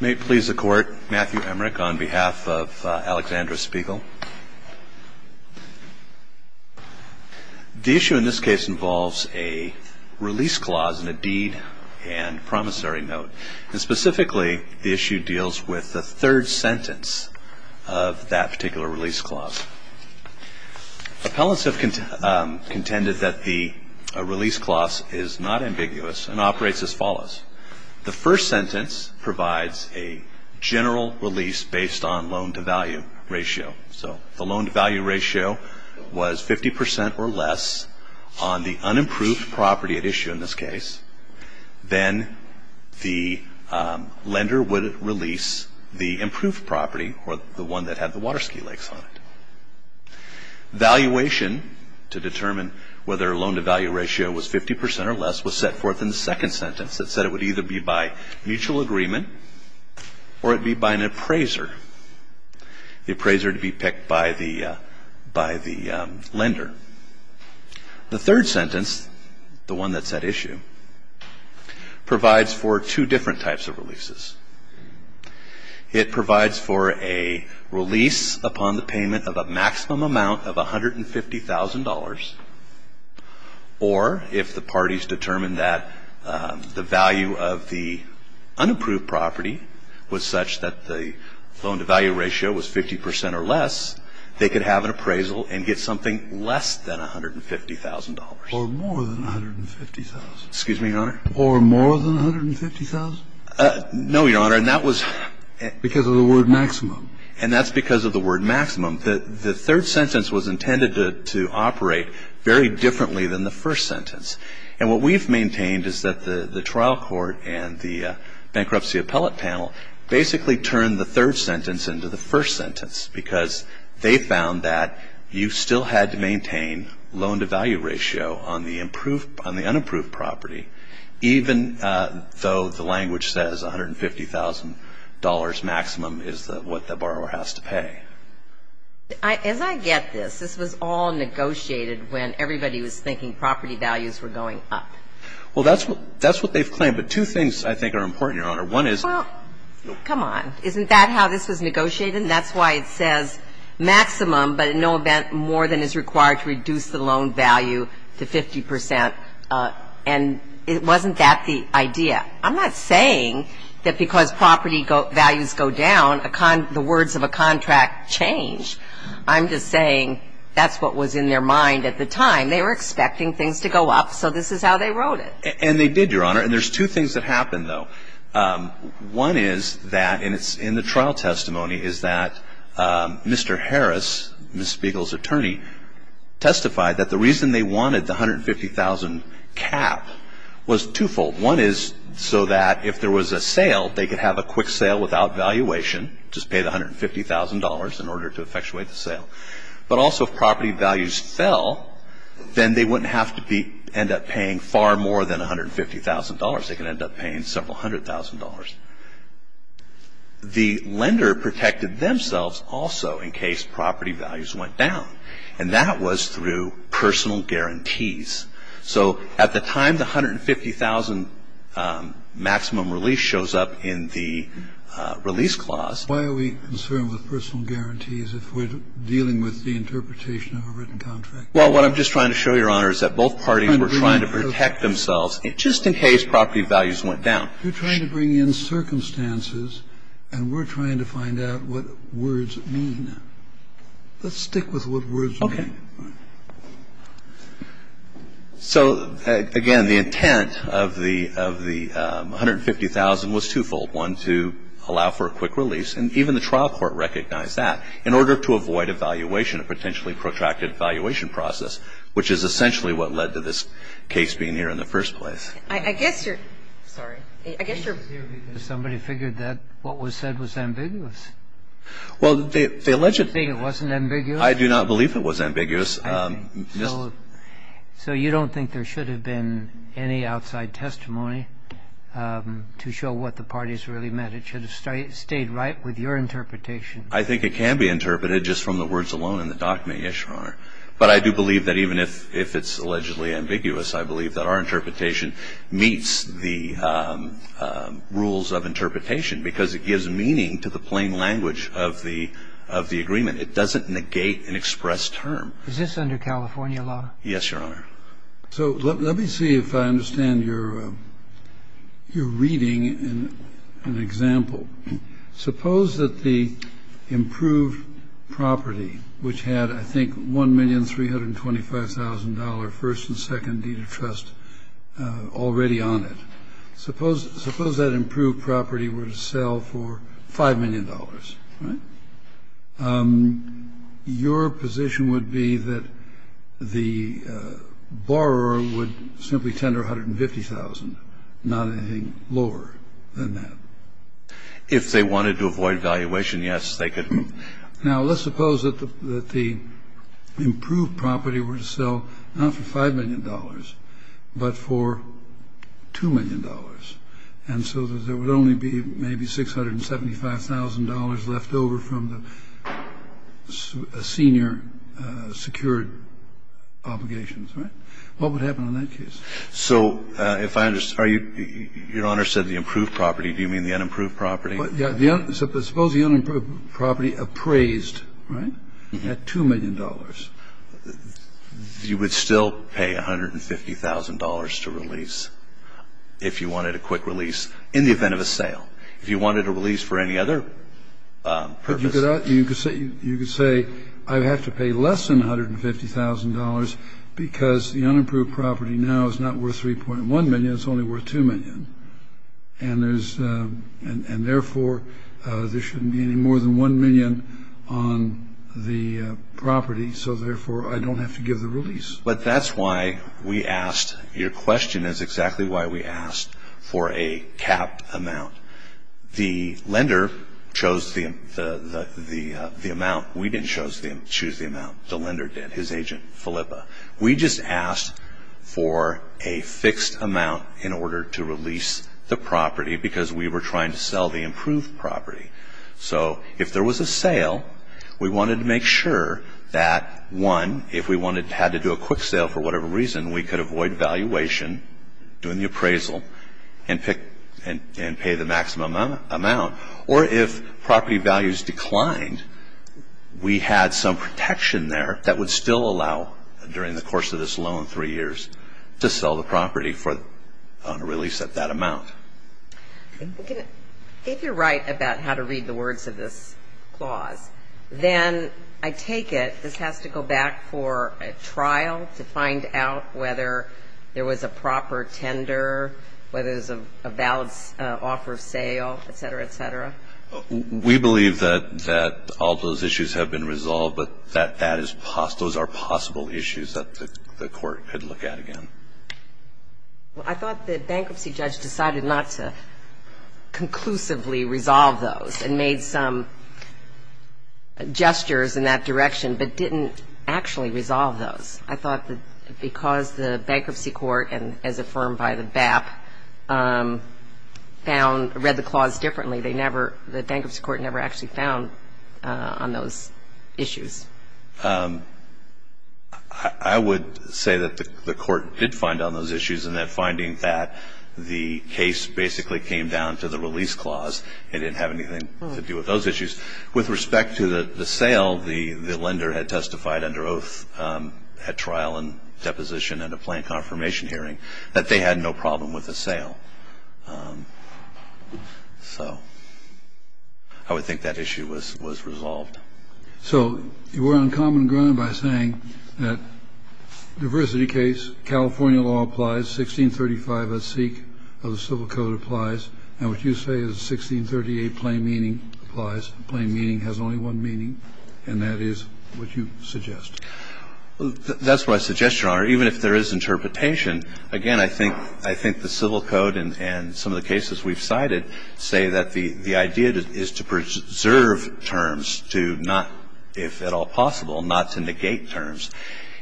May it please the Court, Matthew Emmerich on behalf of Alexandra Spiegel. The issue in this case involves a release clause in a deed and promissory note. And specifically, the issue deals with the third sentence of that particular release clause. Appellants have contended that the release clause is not ambiguous and operates as follows. The first sentence provides a general release based on loan-to-value ratio. So if the loan-to-value ratio was 50 percent or less on the unimproved property at issue in this case, then the lender would release the improved property, or the one that had the water ski lakes on it. Valuation, to determine whether a loan-to-value ratio was 50 percent or less, was set forth in the second sentence. It said it would either be by mutual agreement or it would be by an appraiser, the appraiser to be picked by the lender. The third sentence, the one that's at issue, provides for two different types of releases. It provides for a release upon the payment of a maximum amount of $150,000 or if the parties determined that the value of the unimproved property was such that the loan-to-value ratio was 50 percent or less, they could have an appraisal and get something less than $150,000. Or more than $150,000. Excuse me, Your Honor? Or more than $150,000? No, Your Honor. And that was because of the word maximum. And that's because of the word maximum. The third sentence was intended to operate very differently than the first sentence. And what we've maintained is that the trial court and the bankruptcy appellate panel basically turned the third sentence into the first sentence because they found that you still had to maintain loan-to-value ratio on the unimproved property, even though the language says $150,000 maximum is what the borrower has to pay. As I get this, this was all negotiated when everybody was thinking property values were going up. Well, that's what they've claimed. But two things, I think, are important, Your Honor. One is — Well, come on. Isn't that how this was negotiated? And that's why it says maximum, but in no event more than is required to reduce the loan value to 50 percent. And wasn't that the idea? I'm not saying that because property values go down, the words of a contract change. I'm just saying that's what was in their mind at the time. They were expecting things to go up, so this is how they wrote it. And they did, Your Honor. And there's two things that happened, though. One is that, and it's in the trial testimony, is that Mr. Harris, Ms. Spiegel's attorney, testified that the reason they wanted the $150,000 cap was twofold. One is so that if there was a sale, they could have a quick sale without valuation, just pay the $150,000 in order to effectuate the sale. But also, if property values fell, then they wouldn't have to end up paying far more than $150,000. They could end up paying several hundred thousand dollars. The lender protected themselves also in case property values went down, and that was through personal guarantees. So at the time the $150,000 maximum release shows up in the release clause. Why are we concerned with personal guarantees if we're dealing with the interpretation of a written contract? Well, what I'm just trying to show you, Your Honor, is that both parties were trying to protect themselves just in case property values went down. You're trying to bring in circumstances, and we're trying to find out what words mean. Let's stick with what words mean. Okay. So, again, the intent of the $150,000 was twofold. One, to allow for a quick release, and even the trial court recognized that, in order to avoid a valuation, a potentially protracted valuation process, which is essentially what led to this case being here in the first place. I guess you're – sorry. I guess you're – Somebody figured that what was said was ambiguous. Well, the alleged – You think it wasn't ambiguous? I do not believe it was ambiguous. So you don't think there should have been any outside testimony to show what the parties really meant? It should have stayed right with your interpretation. I think it can be interpreted just from the words alone in the document, yes, Your Honor. But I do believe that even if it's allegedly ambiguous, I believe that our interpretation meets the rules of interpretation because it gives meaning to the plain language of the agreement. It doesn't negate an expressed term. Is this under California law? Yes, Your Honor. So let me see if I understand your reading and example. Suppose that the improved property, which had, I think, $1,325,000 first and second deed of trust already on it, suppose that improved property were to sell for $5 million, right? Your position would be that the borrower would simply tender $150,000, not anything lower than that? If they wanted to avoid valuation, yes, they could. Now, let's suppose that the improved property were to sell not for $5 million but for $2 million, and so there would only be maybe $675,000 left over from the senior secured obligations, right? What would happen in that case? So if I understand, Your Honor said the improved property. Do you mean the unimproved property? Yeah. Suppose the unimproved property appraised, right, at $2 million. You would still pay $150,000 to release if you wanted a quick release in the event of a sale? If you wanted a release for any other purpose? You could say I have to pay less than $150,000 because the unimproved property now is not worth $3.1 million. It's only worth $2 million. And, therefore, there shouldn't be any more than $1 million on the property, so, therefore, I don't have to give the release. But that's why we asked. Your question is exactly why we asked for a capped amount. The lender chose the amount. We didn't choose the amount. The lender did, his agent, Philippa. We just asked for a fixed amount in order to release the property because we were trying to sell the improved property. So if there was a sale, we wanted to make sure that, one, if we had to do a quick sale for whatever reason, we could avoid valuation, doing the appraisal, and pay the maximum amount. Or if property values declined, we had some protection there that would still allow, during the course of this loan, three years, to sell the property on a release at that amount. If you're right about how to read the words of this clause, then I take it this has to go back for a trial to find out whether there was a proper tender, whether there's a valid offer of sale, et cetera, et cetera? We believe that all those issues have been resolved, but that those are possible issues that the Court could look at again. Well, I thought the bankruptcy judge decided not to conclusively resolve those and made some gestures in that direction, but didn't actually resolve those. I thought that because the bankruptcy court, and as affirmed by the BAP, found or read the clause differently, they never – the bankruptcy court never actually found on those issues. I would say that the Court did find on those issues, and that finding that the case basically came down to the release clause. It didn't have anything to do with those issues. With respect to the sale, the lender had testified under oath at trial and deposition and a plain confirmation hearing that they had no problem with the sale. So I would think that issue was resolved. So you were on common ground by saying that diversity case, California law applies, 1635 SEC of the Civil Code applies, and what you say is 1638 plain meaning applies. Plain meaning has only one meaning, and that is what you suggest. That's what I suggest, Your Honor. Even if there is interpretation, again, I think the Civil Code and some of the cases we've cited say that the idea is to preserve terms, to not, if at all possible, not to negate terms.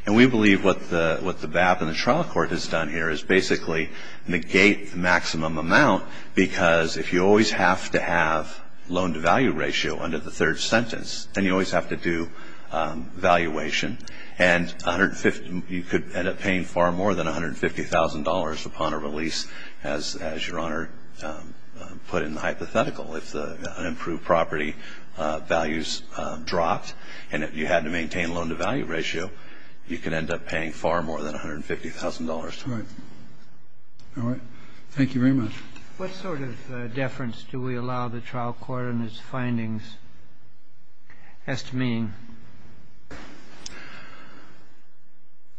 And we believe what the BAP and the trial court has done here is basically negate the maximum amount because if you always have to have loan-to-value ratio under the third sentence, then you always have to do valuation, and you could end up paying far more than $150,000 upon a release, as Your Honor put in the hypothetical. If the unimproved property values dropped and you had to maintain loan-to-value ratio, you could end up paying far more than $150,000. Right. All right. Thank you very much. What sort of deference do we allow the trial court in its findings as to meaning?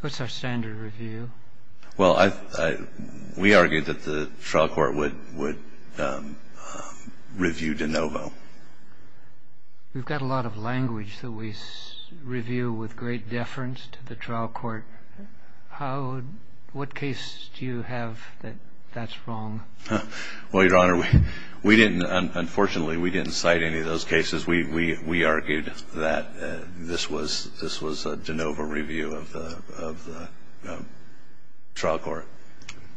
What's our standard review? Well, we argue that the trial court would review de novo. We've got a lot of language that we review with great deference to the trial court. What case do you have that that's wrong? Well, Your Honor, we didn't, unfortunately, we didn't cite any of those cases. We argued that this was a de novo review of the trial court.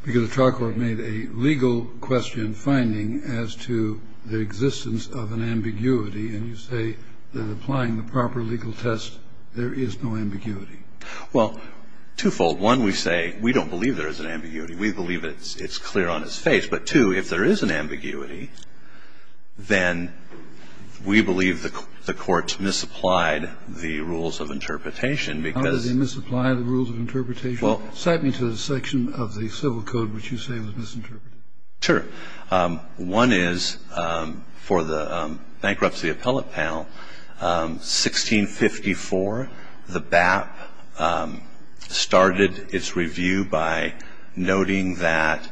Because the trial court made a legal question finding as to the existence of an ambiguity, and you say that applying the proper legal test, there is no ambiguity. Well, twofold. One, we say we don't believe there is an ambiguity. We believe it's clear on its face. But, two, if there is an ambiguity, then we believe the court misapplied the rules of interpretation because How did they misapply the rules of interpretation? Well Cite me to the section of the civil code which you say was misinterpreted. Sure. One is for the bankruptcy appellate panel, 1654, the BAP started its review by noting that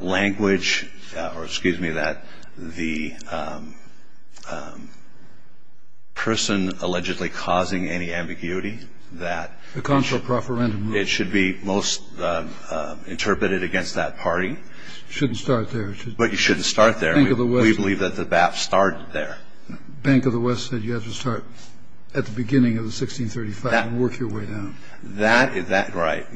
language or, excuse me, that the person allegedly causing any ambiguity, that The consular profferendum. It should be most interpreted against that party. You shouldn't start there. But you shouldn't start there. Bank of the West. We believe that the BAP started there. Bank of the West said you have to start at the beginning of the 1635 and work your way down. Right.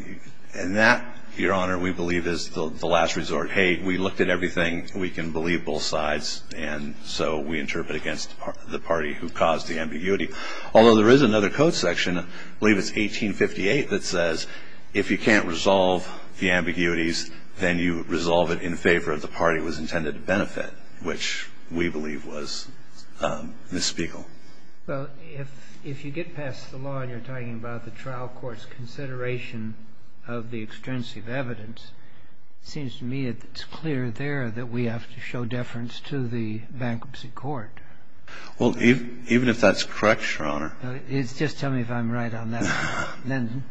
And that, Your Honor, we believe is the last resort. Hey, we looked at everything. We can believe both sides. And so we interpret against the party who caused the ambiguity. Although there is another code section, I believe it's 1858, that says if you can't resolve the ambiguities, then you resolve it in favor of the party it was intended to benefit, which we believe was Ms. Spiegel. Well, if you get past the law and you're talking about the trial court's consideration of the extrinsic evidence, it seems to me it's clear there that we have to show deference to the bankruptcy court. Well, even if that's correct, Your Honor. Just tell me if I'm right on that. Then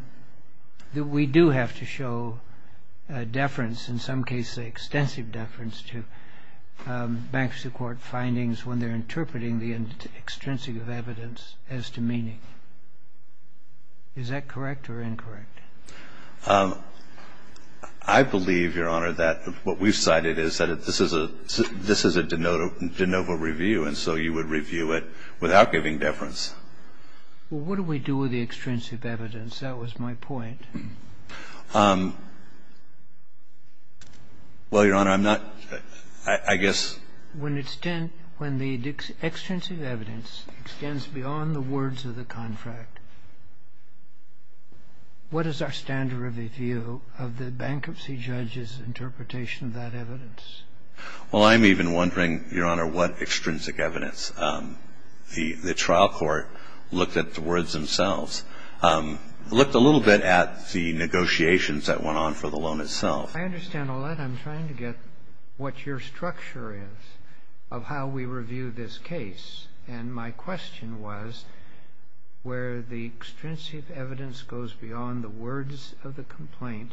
we do have to show deference, in some cases extensive deference, to bankruptcy court findings when they're interpreting the extrinsic evidence as demeaning. Is that correct or incorrect? I believe, Your Honor, that what we've cited is that this is a de novo review, and so you would review it without giving deference. Well, what do we do with the extrinsic evidence? That was my point. Well, Your Honor, I'm not, I guess. When the extrinsic evidence extends beyond the words of the contract, what is our standard review of the bankruptcy judge's interpretation of that evidence? Well, I'm even wondering, Your Honor, what extrinsic evidence. The trial court looked at the words themselves. Looked a little bit at the negotiations that went on for the loan itself. I understand all that. I'm trying to get what your structure is of how we review this case, and my question was where the extrinsic evidence goes beyond the words of the complaint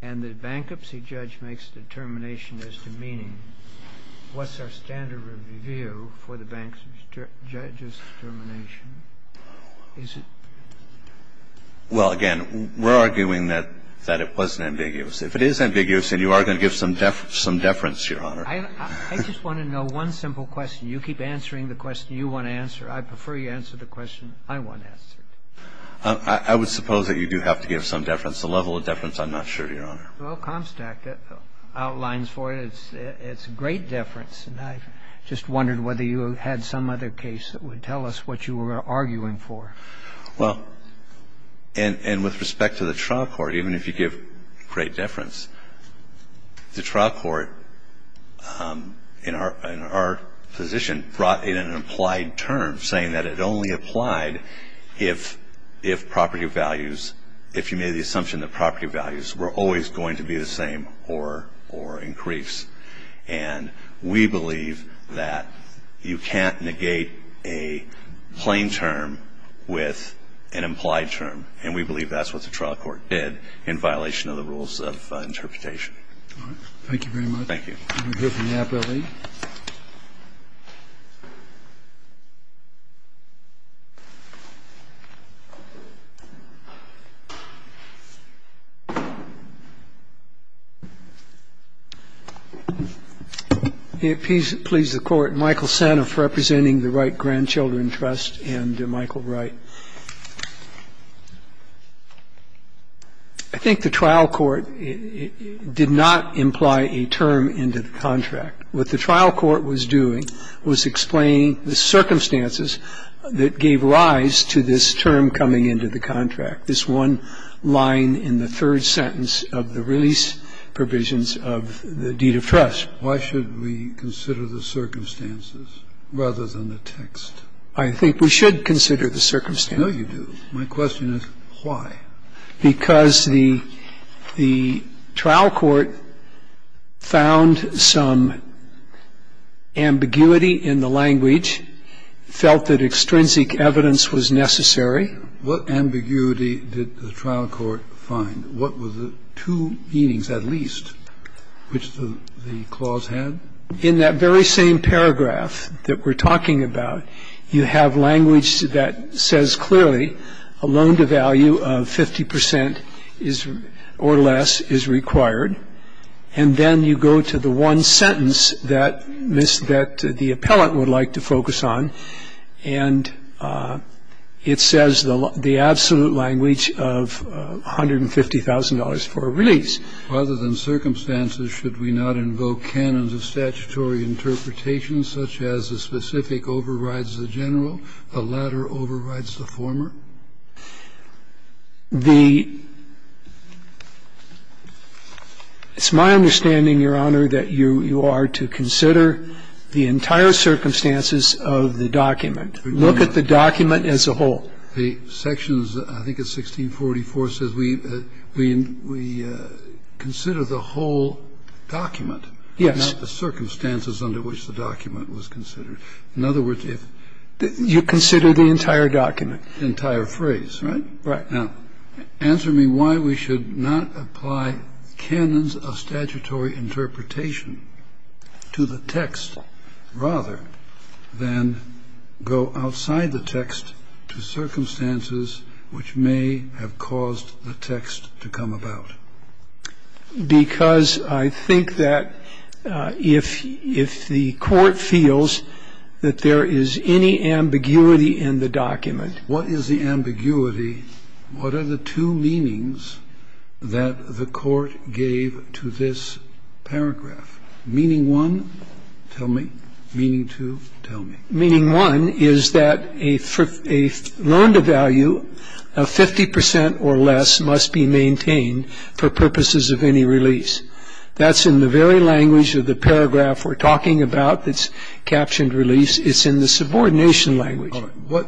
and the bankruptcy judge makes a determination as to meaning, what's our standard review for the bankruptcy judge's determination? Is it? Well, again, we're arguing that it wasn't ambiguous. If it is ambiguous, then you are going to give some deference, Your Honor. I just want to know one simple question. You keep answering the question you want to answer. I prefer you answer the question I want answered. I would suppose that you do have to give some deference. The level of deference, I'm not sure, Your Honor. Well, Comstack outlines for you it's a great deference. And I just wondered whether you had some other case that would tell us what you were arguing for. Well, and with respect to the trial court, even if you give great deference, the trial court in our position brought in an implied term, saying that it only applied if property values, if you made the assumption that property values were always going to be the same or increase. And we believe that you can't negate a plain term with an implied term. And we believe that's what the trial court did in violation of the rules of interpretation. All right. Thank you very much. I'm going to go to Napoli. May it please the Court. Michael Sanoff representing the Wright Grandchildren Trust and Michael Wright. I think the trial court did not imply a term into the contract. What the trial court was doing was explaining the circumstances that gave rise to this term coming into the contract, this one line in the third sentence of the release provisions of the deed of trust. Why should we consider the circumstances rather than the text? I think we should consider the circumstances. No, you do. My question is why. Because the trial court found some ambiguity in the language, felt that extrinsic evidence was necessary. What ambiguity did the trial court find? What were the two meanings at least which the clause had? In that very same paragraph that we're talking about, you have language that says clearly a loan to value of 50 percent or less is required, and then you go to the one sentence that the appellant would like to focus on, and it says the absolute language of $150,000 for a release. Why should we consider the circumstances rather than the text? Why should we consider the circumstances? Rather than circumstances, should we not invoke canons of statutory interpretation such as the specific overrides the general, the latter overrides the former? The – it's my understanding, Your Honor, that you are to consider the entire circumstances of the document. Look at the document as a whole. The sections, I think it's 1644, says we consider the whole document. Yes. Not the circumstances under which the document was considered. In other words, if you consider the entire document. Entire document. Entire phrase, right? Right. Now, answer me why we should not apply canons of statutory interpretation to the text rather than go outside the text to circumstances which may have caused the text to come about. Because I think that if the Court feels that there is any ambiguity in the document interpretation to the text. What is the ambiguity? What are the two meanings that the Court gave to this paragraph? Meaning one, tell me. Meaning two, tell me. Meaning one is that a loaned value of 50 percent or less must be maintained for purposes of any release. That's in the very language of the paragraph we're talking about that's captioned release. It's in the subordination language. All right.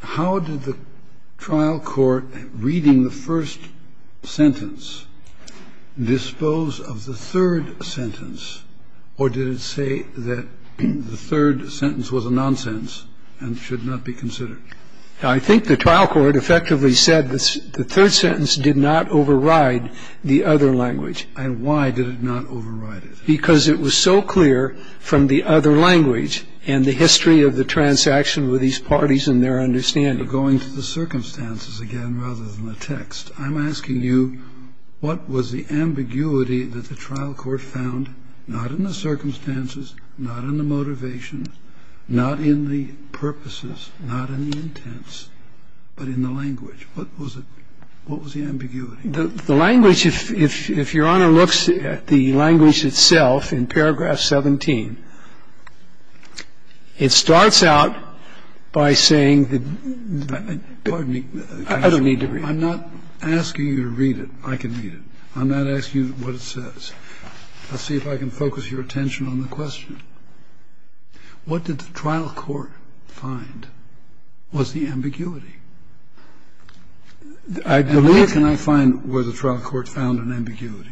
How did the trial court, reading the first sentence, dispose of the third sentence? Or did it say that the third sentence was a nonsense and should not be considered? I think the trial court effectively said that the third sentence did not override the other language. And why did it not override it? Because it was so clear from the other language and the history of the transaction with these parties and their understanding. But going to the circumstances again rather than the text, I'm asking you what was the ambiguity that the trial court found not in the circumstances, not in the motivation, not in the purposes, not in the intents, but in the language? What was it? What was the ambiguity? The language, if Your Honor looks at the language itself in paragraph 17, it starts out by saying that the ---- Pardon me. I don't need to read it. I'm not asking you to read it. I can read it. I'm not asking you what it says. Let's see if I can focus your attention on the question. What did the trial court find was the ambiguity? I believe ---- How can I find where the trial court found an ambiguity?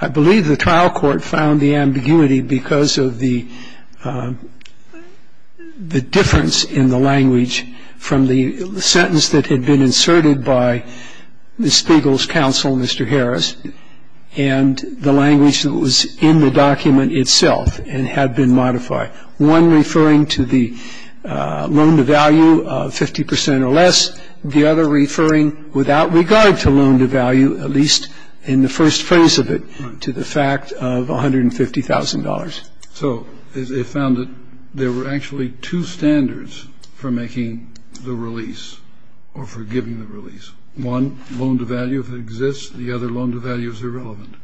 I believe the trial court found the ambiguity because of the difference in the language from the sentence that had been inserted by Ms. Spiegel's counsel, Mr. Harris, and the language that was in the document itself and had been modified, one referring to the loan-to-value of 50 percent or less, the other referring without regard to loan-to-value, at least in the first phrase of it, to the fact of $150,000. So it found that there were actually two standards for making the release or for giving the release. One, loan-to-value, if it exists. The other, loan-to-value is irrelevant.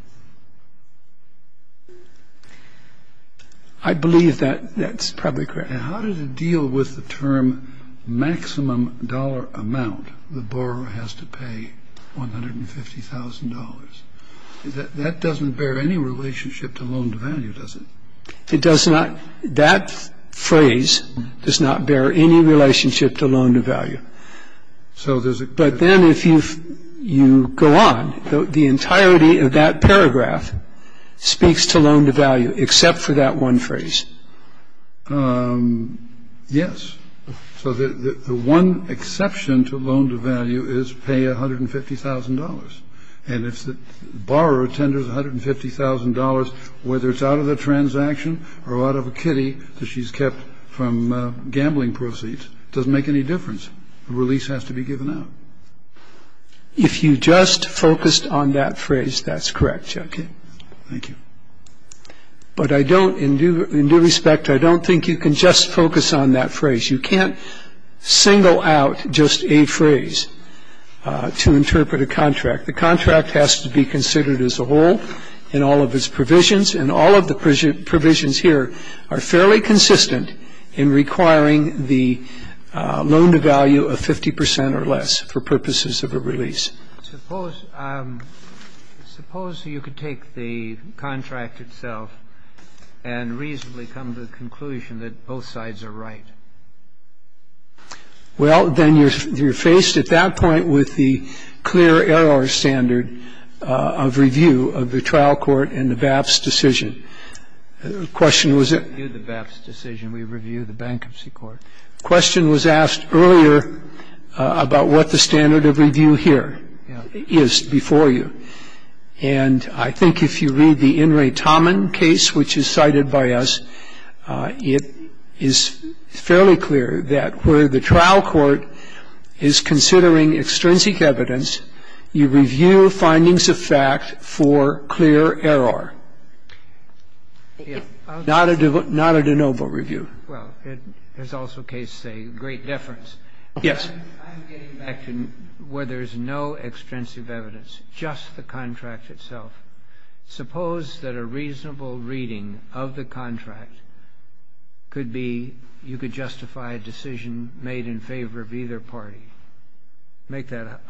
I believe that that's probably correct. Now, how did it deal with the term maximum dollar amount the borrower has to pay $150,000? That doesn't bear any relationship to loan-to-value, does it? It does not. That phrase does not bear any relationship to loan-to-value. But then if you go on, the entirety of that paragraph speaks to loan-to-value, except for that one phrase. Yes. So the one exception to loan-to-value is pay $150,000. And if the borrower tenders $150,000, whether it's out of the transaction or out of a kitty that she's kept from gambling proceeds, it doesn't make any difference. The release has to be given out. If you just focused on that phrase, that's correct, Chuck. Thank you. But I don't, in due respect, I don't think you can just focus on that phrase. You can't single out just a phrase to interpret a contract. The contract has to be considered as a whole in all of its provisions, and all of the provisions here are fairly consistent in requiring the loan-to-value of 50 percent or less for purposes of a release. Suppose you could take the contract itself and reasonably come to the conclusion that both sides are right. Well, then you're faced at that point with the clear error standard of review of the trial court and the BAPS decision. The question was it? Review the BAPS decision. We review the bankruptcy court. The question was asked earlier about what the standard of review here is before you. And I think if you read the In re Tommen case, which is cited by us, it is fairly clear that where the trial court is considering extrinsic evidence, you review findings of fact for clear error. Not a de novo review. Well, it is also a case, say, of great deference. Yes. I'm getting back to where there's no extrinsic evidence, just the contract itself. Suppose that a reasonable reading of the contract could be you could justify a decision made in favor of either party. Make that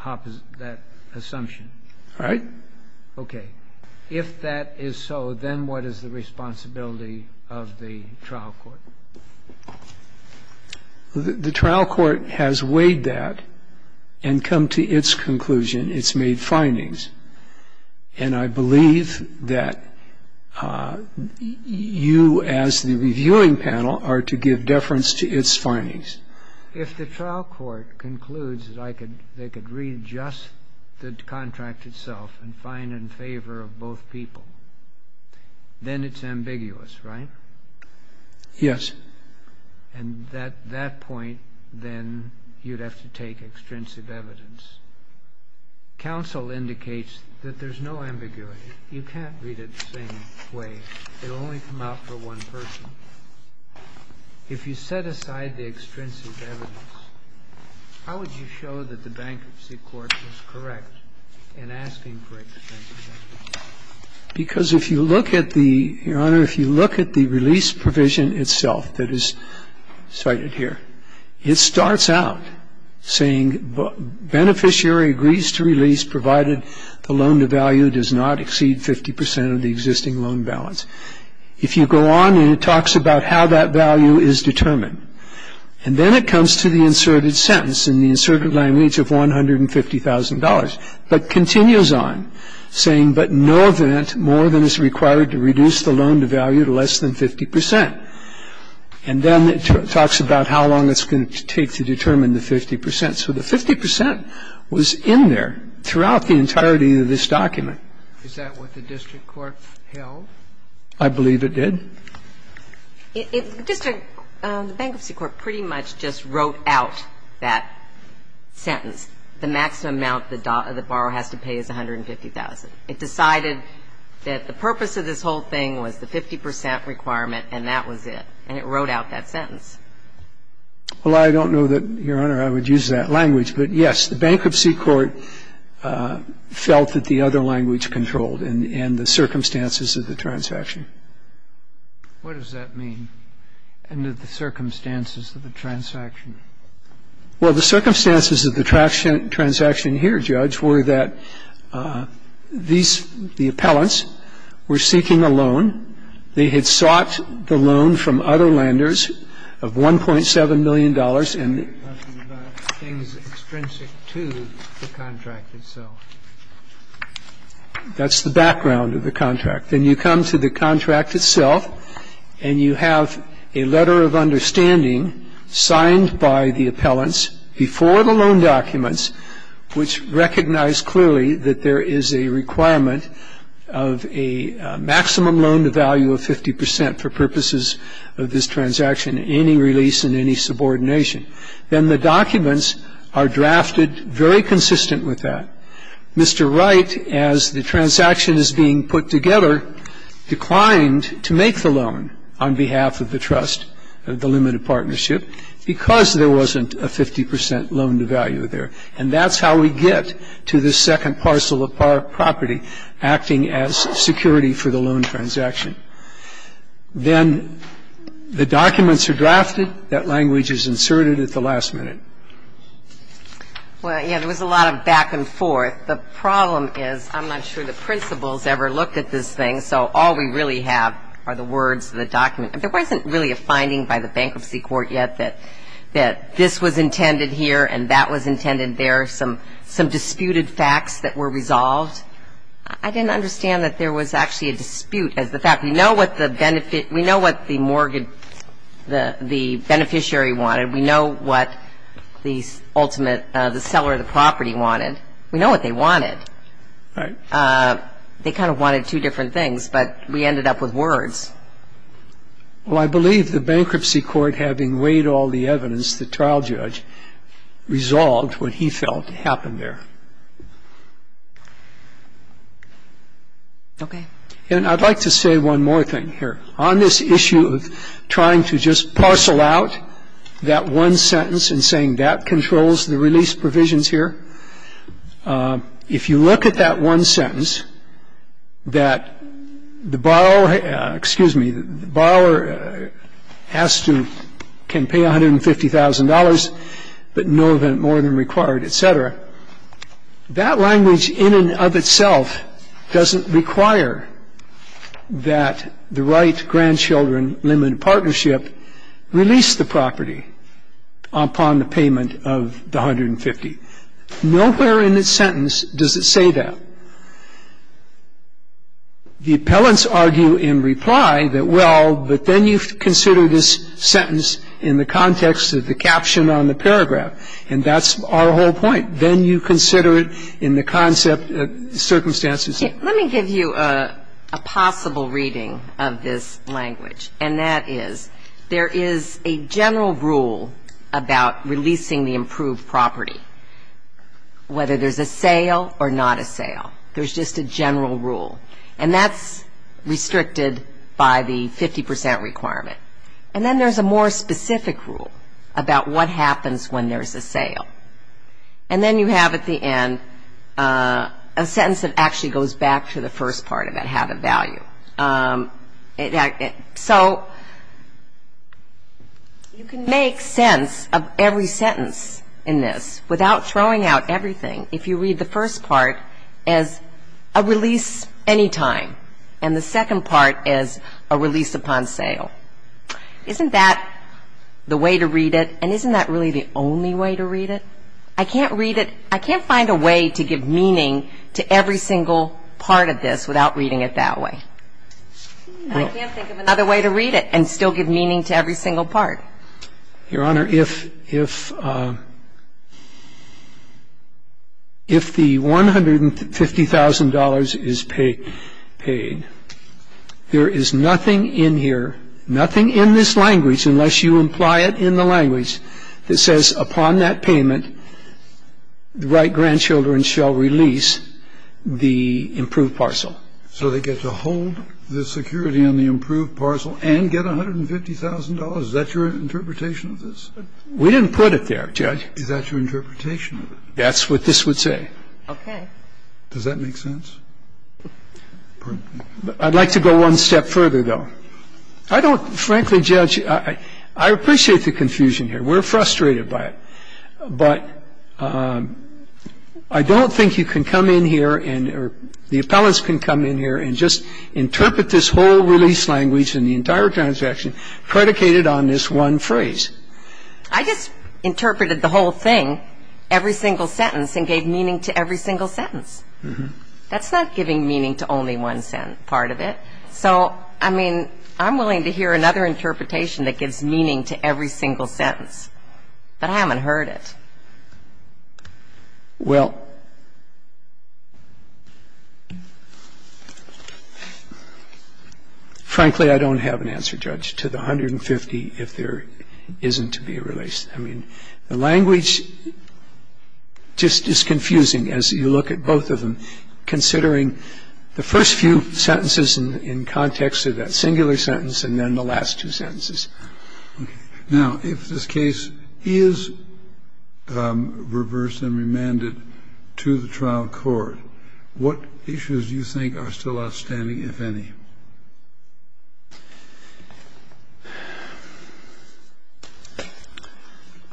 assumption. All right. Okay. If that is so, then what is the responsibility of the trial court? The trial court has weighed that and come to its conclusion. It's made findings. And I believe that you as the reviewing panel are to give deference to its findings. If the trial court concludes that they could read just the contract itself and find it in favor of both people, then it's ambiguous, right? Yes. And at that point, then, you'd have to take extrinsic evidence. Counsel indicates that there's no ambiguity. You can't read it the same way. It will only come out for one person. If you set aside the extrinsic evidence, how would you show that the bankruptcy court was correct in asking for extrinsic evidence? Because if you look at the, Your Honor, if you look at the release provision itself that is cited here, it starts out saying beneficiary agrees to release provided the loan to value does not exceed 50 percent of the existing loan balance. If you go on and it talks about how that value is determined. And then it comes to the inserted sentence and the inserted language of $150,000, but continues on saying, but in no event more than is required to reduce the loan to value to less than 50 percent. And then it talks about how long it's going to take to determine the 50 percent. So the 50 percent was in there throughout the entirety of this document. Is that what the district court held? I believe it did. District, the bankruptcy court pretty much just wrote out that sentence. The maximum amount the borrower has to pay is $150,000. It decided that the purpose of this whole thing was the 50 percent requirement and that was it. And it wrote out that sentence. Well, I don't know that, Your Honor, I would use that language. But, yes, the bankruptcy court felt that the other language controlled in the circumstances of the transaction. What does that mean, in the circumstances of the transaction? Well, the circumstances of the transaction here, Judge, were that the appellants were seeking a loan. They had sought the loan from other lenders of $1.7 million. In the back are some characters. Here is the one where $1.7 million is stated in extent, and it is noted here, $1.7 million. What's going on with the $1.7 million? Then you come to the contract itself Then the documents are drafted very consistent with that. Mr. Wright, as the transaction is being put together, declined to make the loan on behalf of the trust, the limited partnership, because there wasn't a 50% loan to value there. And that's how we get to the second parcel of property acting as security for the loan transaction. Then the documents are drafted. That language is inserted at the last minute. Well, yeah, there was a lot of back and forth. The problem is I'm not sure the principals ever looked at this thing, so all we really have are the words of the document. There wasn't really a finding by the bankruptcy court yet that this was intended here and that was intended there, some disputed facts that were resolved. I didn't understand that there was actually a dispute. We know what the beneficiary wanted. We know what the seller of the property wanted. We know what they wanted. Right. They kind of wanted two different things, but we ended up with words. Well, I believe the bankruptcy court, having weighed all the evidence, the trial judge resolved what he felt happened there. Okay. And I'd like to say one more thing here. On this issue of trying to just parcel out that one sentence and saying that controls the release provisions here, if you look at that one sentence that the borrower has to can pay $150,000, but no more than required, et cetera, that language in and of itself doesn't require that the right grandchildren limited partnership release the property upon the payment of the $150,000. Nowhere in this sentence does it say that. The appellants argue in reply that, well, but then you consider this sentence in the context of the caption on the paragraph, and that's our whole point. Then you consider it in the concept of circumstances. Let me give you a possible reading of this language, and that is there is a general rule about releasing the approved property, whether there's a sale or not a sale. There's just a general rule. And that's restricted by the 50% requirement. And then there's a more specific rule about what happens when there's a sale. And then you have at the end a sentence that actually goes back to the first part about how to value. So you can make sense of every sentence in this without throwing out everything. And I'm just wondering, if you read the first part as a release any time and the second part as a release upon sale, isn't that the way to read it? And isn't that really the only way to read it? I can't read it. I can't find a way to give meaning to every single part of this without reading it that way. I can't think of another way to read it and still give meaning to every single part. Your Honor, if the $150,000 is paid, there is nothing in here, nothing in this language, unless you imply it in the language, that says upon that payment, the right grandchildren shall release the approved parcel. So they get to hold the security on the approved parcel and get $150,000? Is that your interpretation of this? We didn't put it there, Judge. Is that your interpretation of it? That's what this would say. Okay. Does that make sense? I'd like to go one step further, though. I don't, frankly, Judge, I appreciate the confusion here. We're frustrated by it. But I don't think you can come in here and or the appellants can come in here and just interpret this whole release language and the entire transaction predicated on this one phrase. I just interpreted the whole thing, every single sentence, and gave meaning to every single sentence. That's not giving meaning to only one part of it. So, I mean, I'm willing to hear another interpretation that gives meaning to every single sentence. But I haven't heard it. Well, frankly, I don't have an answer, Judge, to the $150,000 if there isn't to be a release. I mean, the language just is confusing as you look at both of them, considering the first few sentences in context of that singular sentence and then the last two sentences. Now, if this case is reversed and remanded to the trial court, what issues do you think are still outstanding, if any?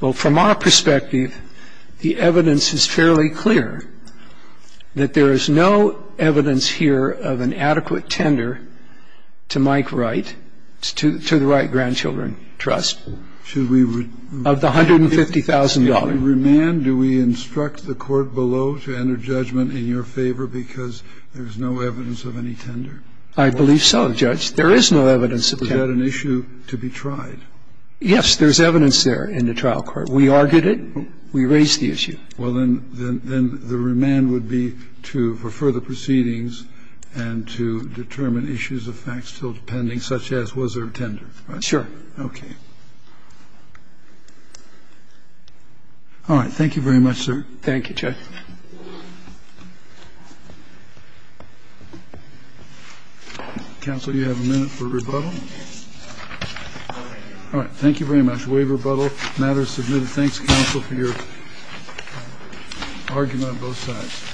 Well, from our perspective, the evidence is fairly clear that there is no evidence here of an adequate tender to Mike Wright, to the Wright Grandchildren Trust, of the $150,000. Should we remand? Do we instruct the court below to enter judgment in your favor because there's no evidence of any tender? I believe so, Judge. There is no evidence of tender. Is that an issue to be tried? Yes, there's evidence there in the trial court. We argued it. We raised the issue. Well, then the remand would be to refer the proceedings and to determine issues of fact still pending, such as was there a tender? Sure. Okay. All right. Thank you very much, sir. Thank you, Judge. Counsel, you have a minute for rebuttal. All right. Thank you very much. We have rebuttal. Matter is submitted. Thanks, counsel, for your argument on both sides.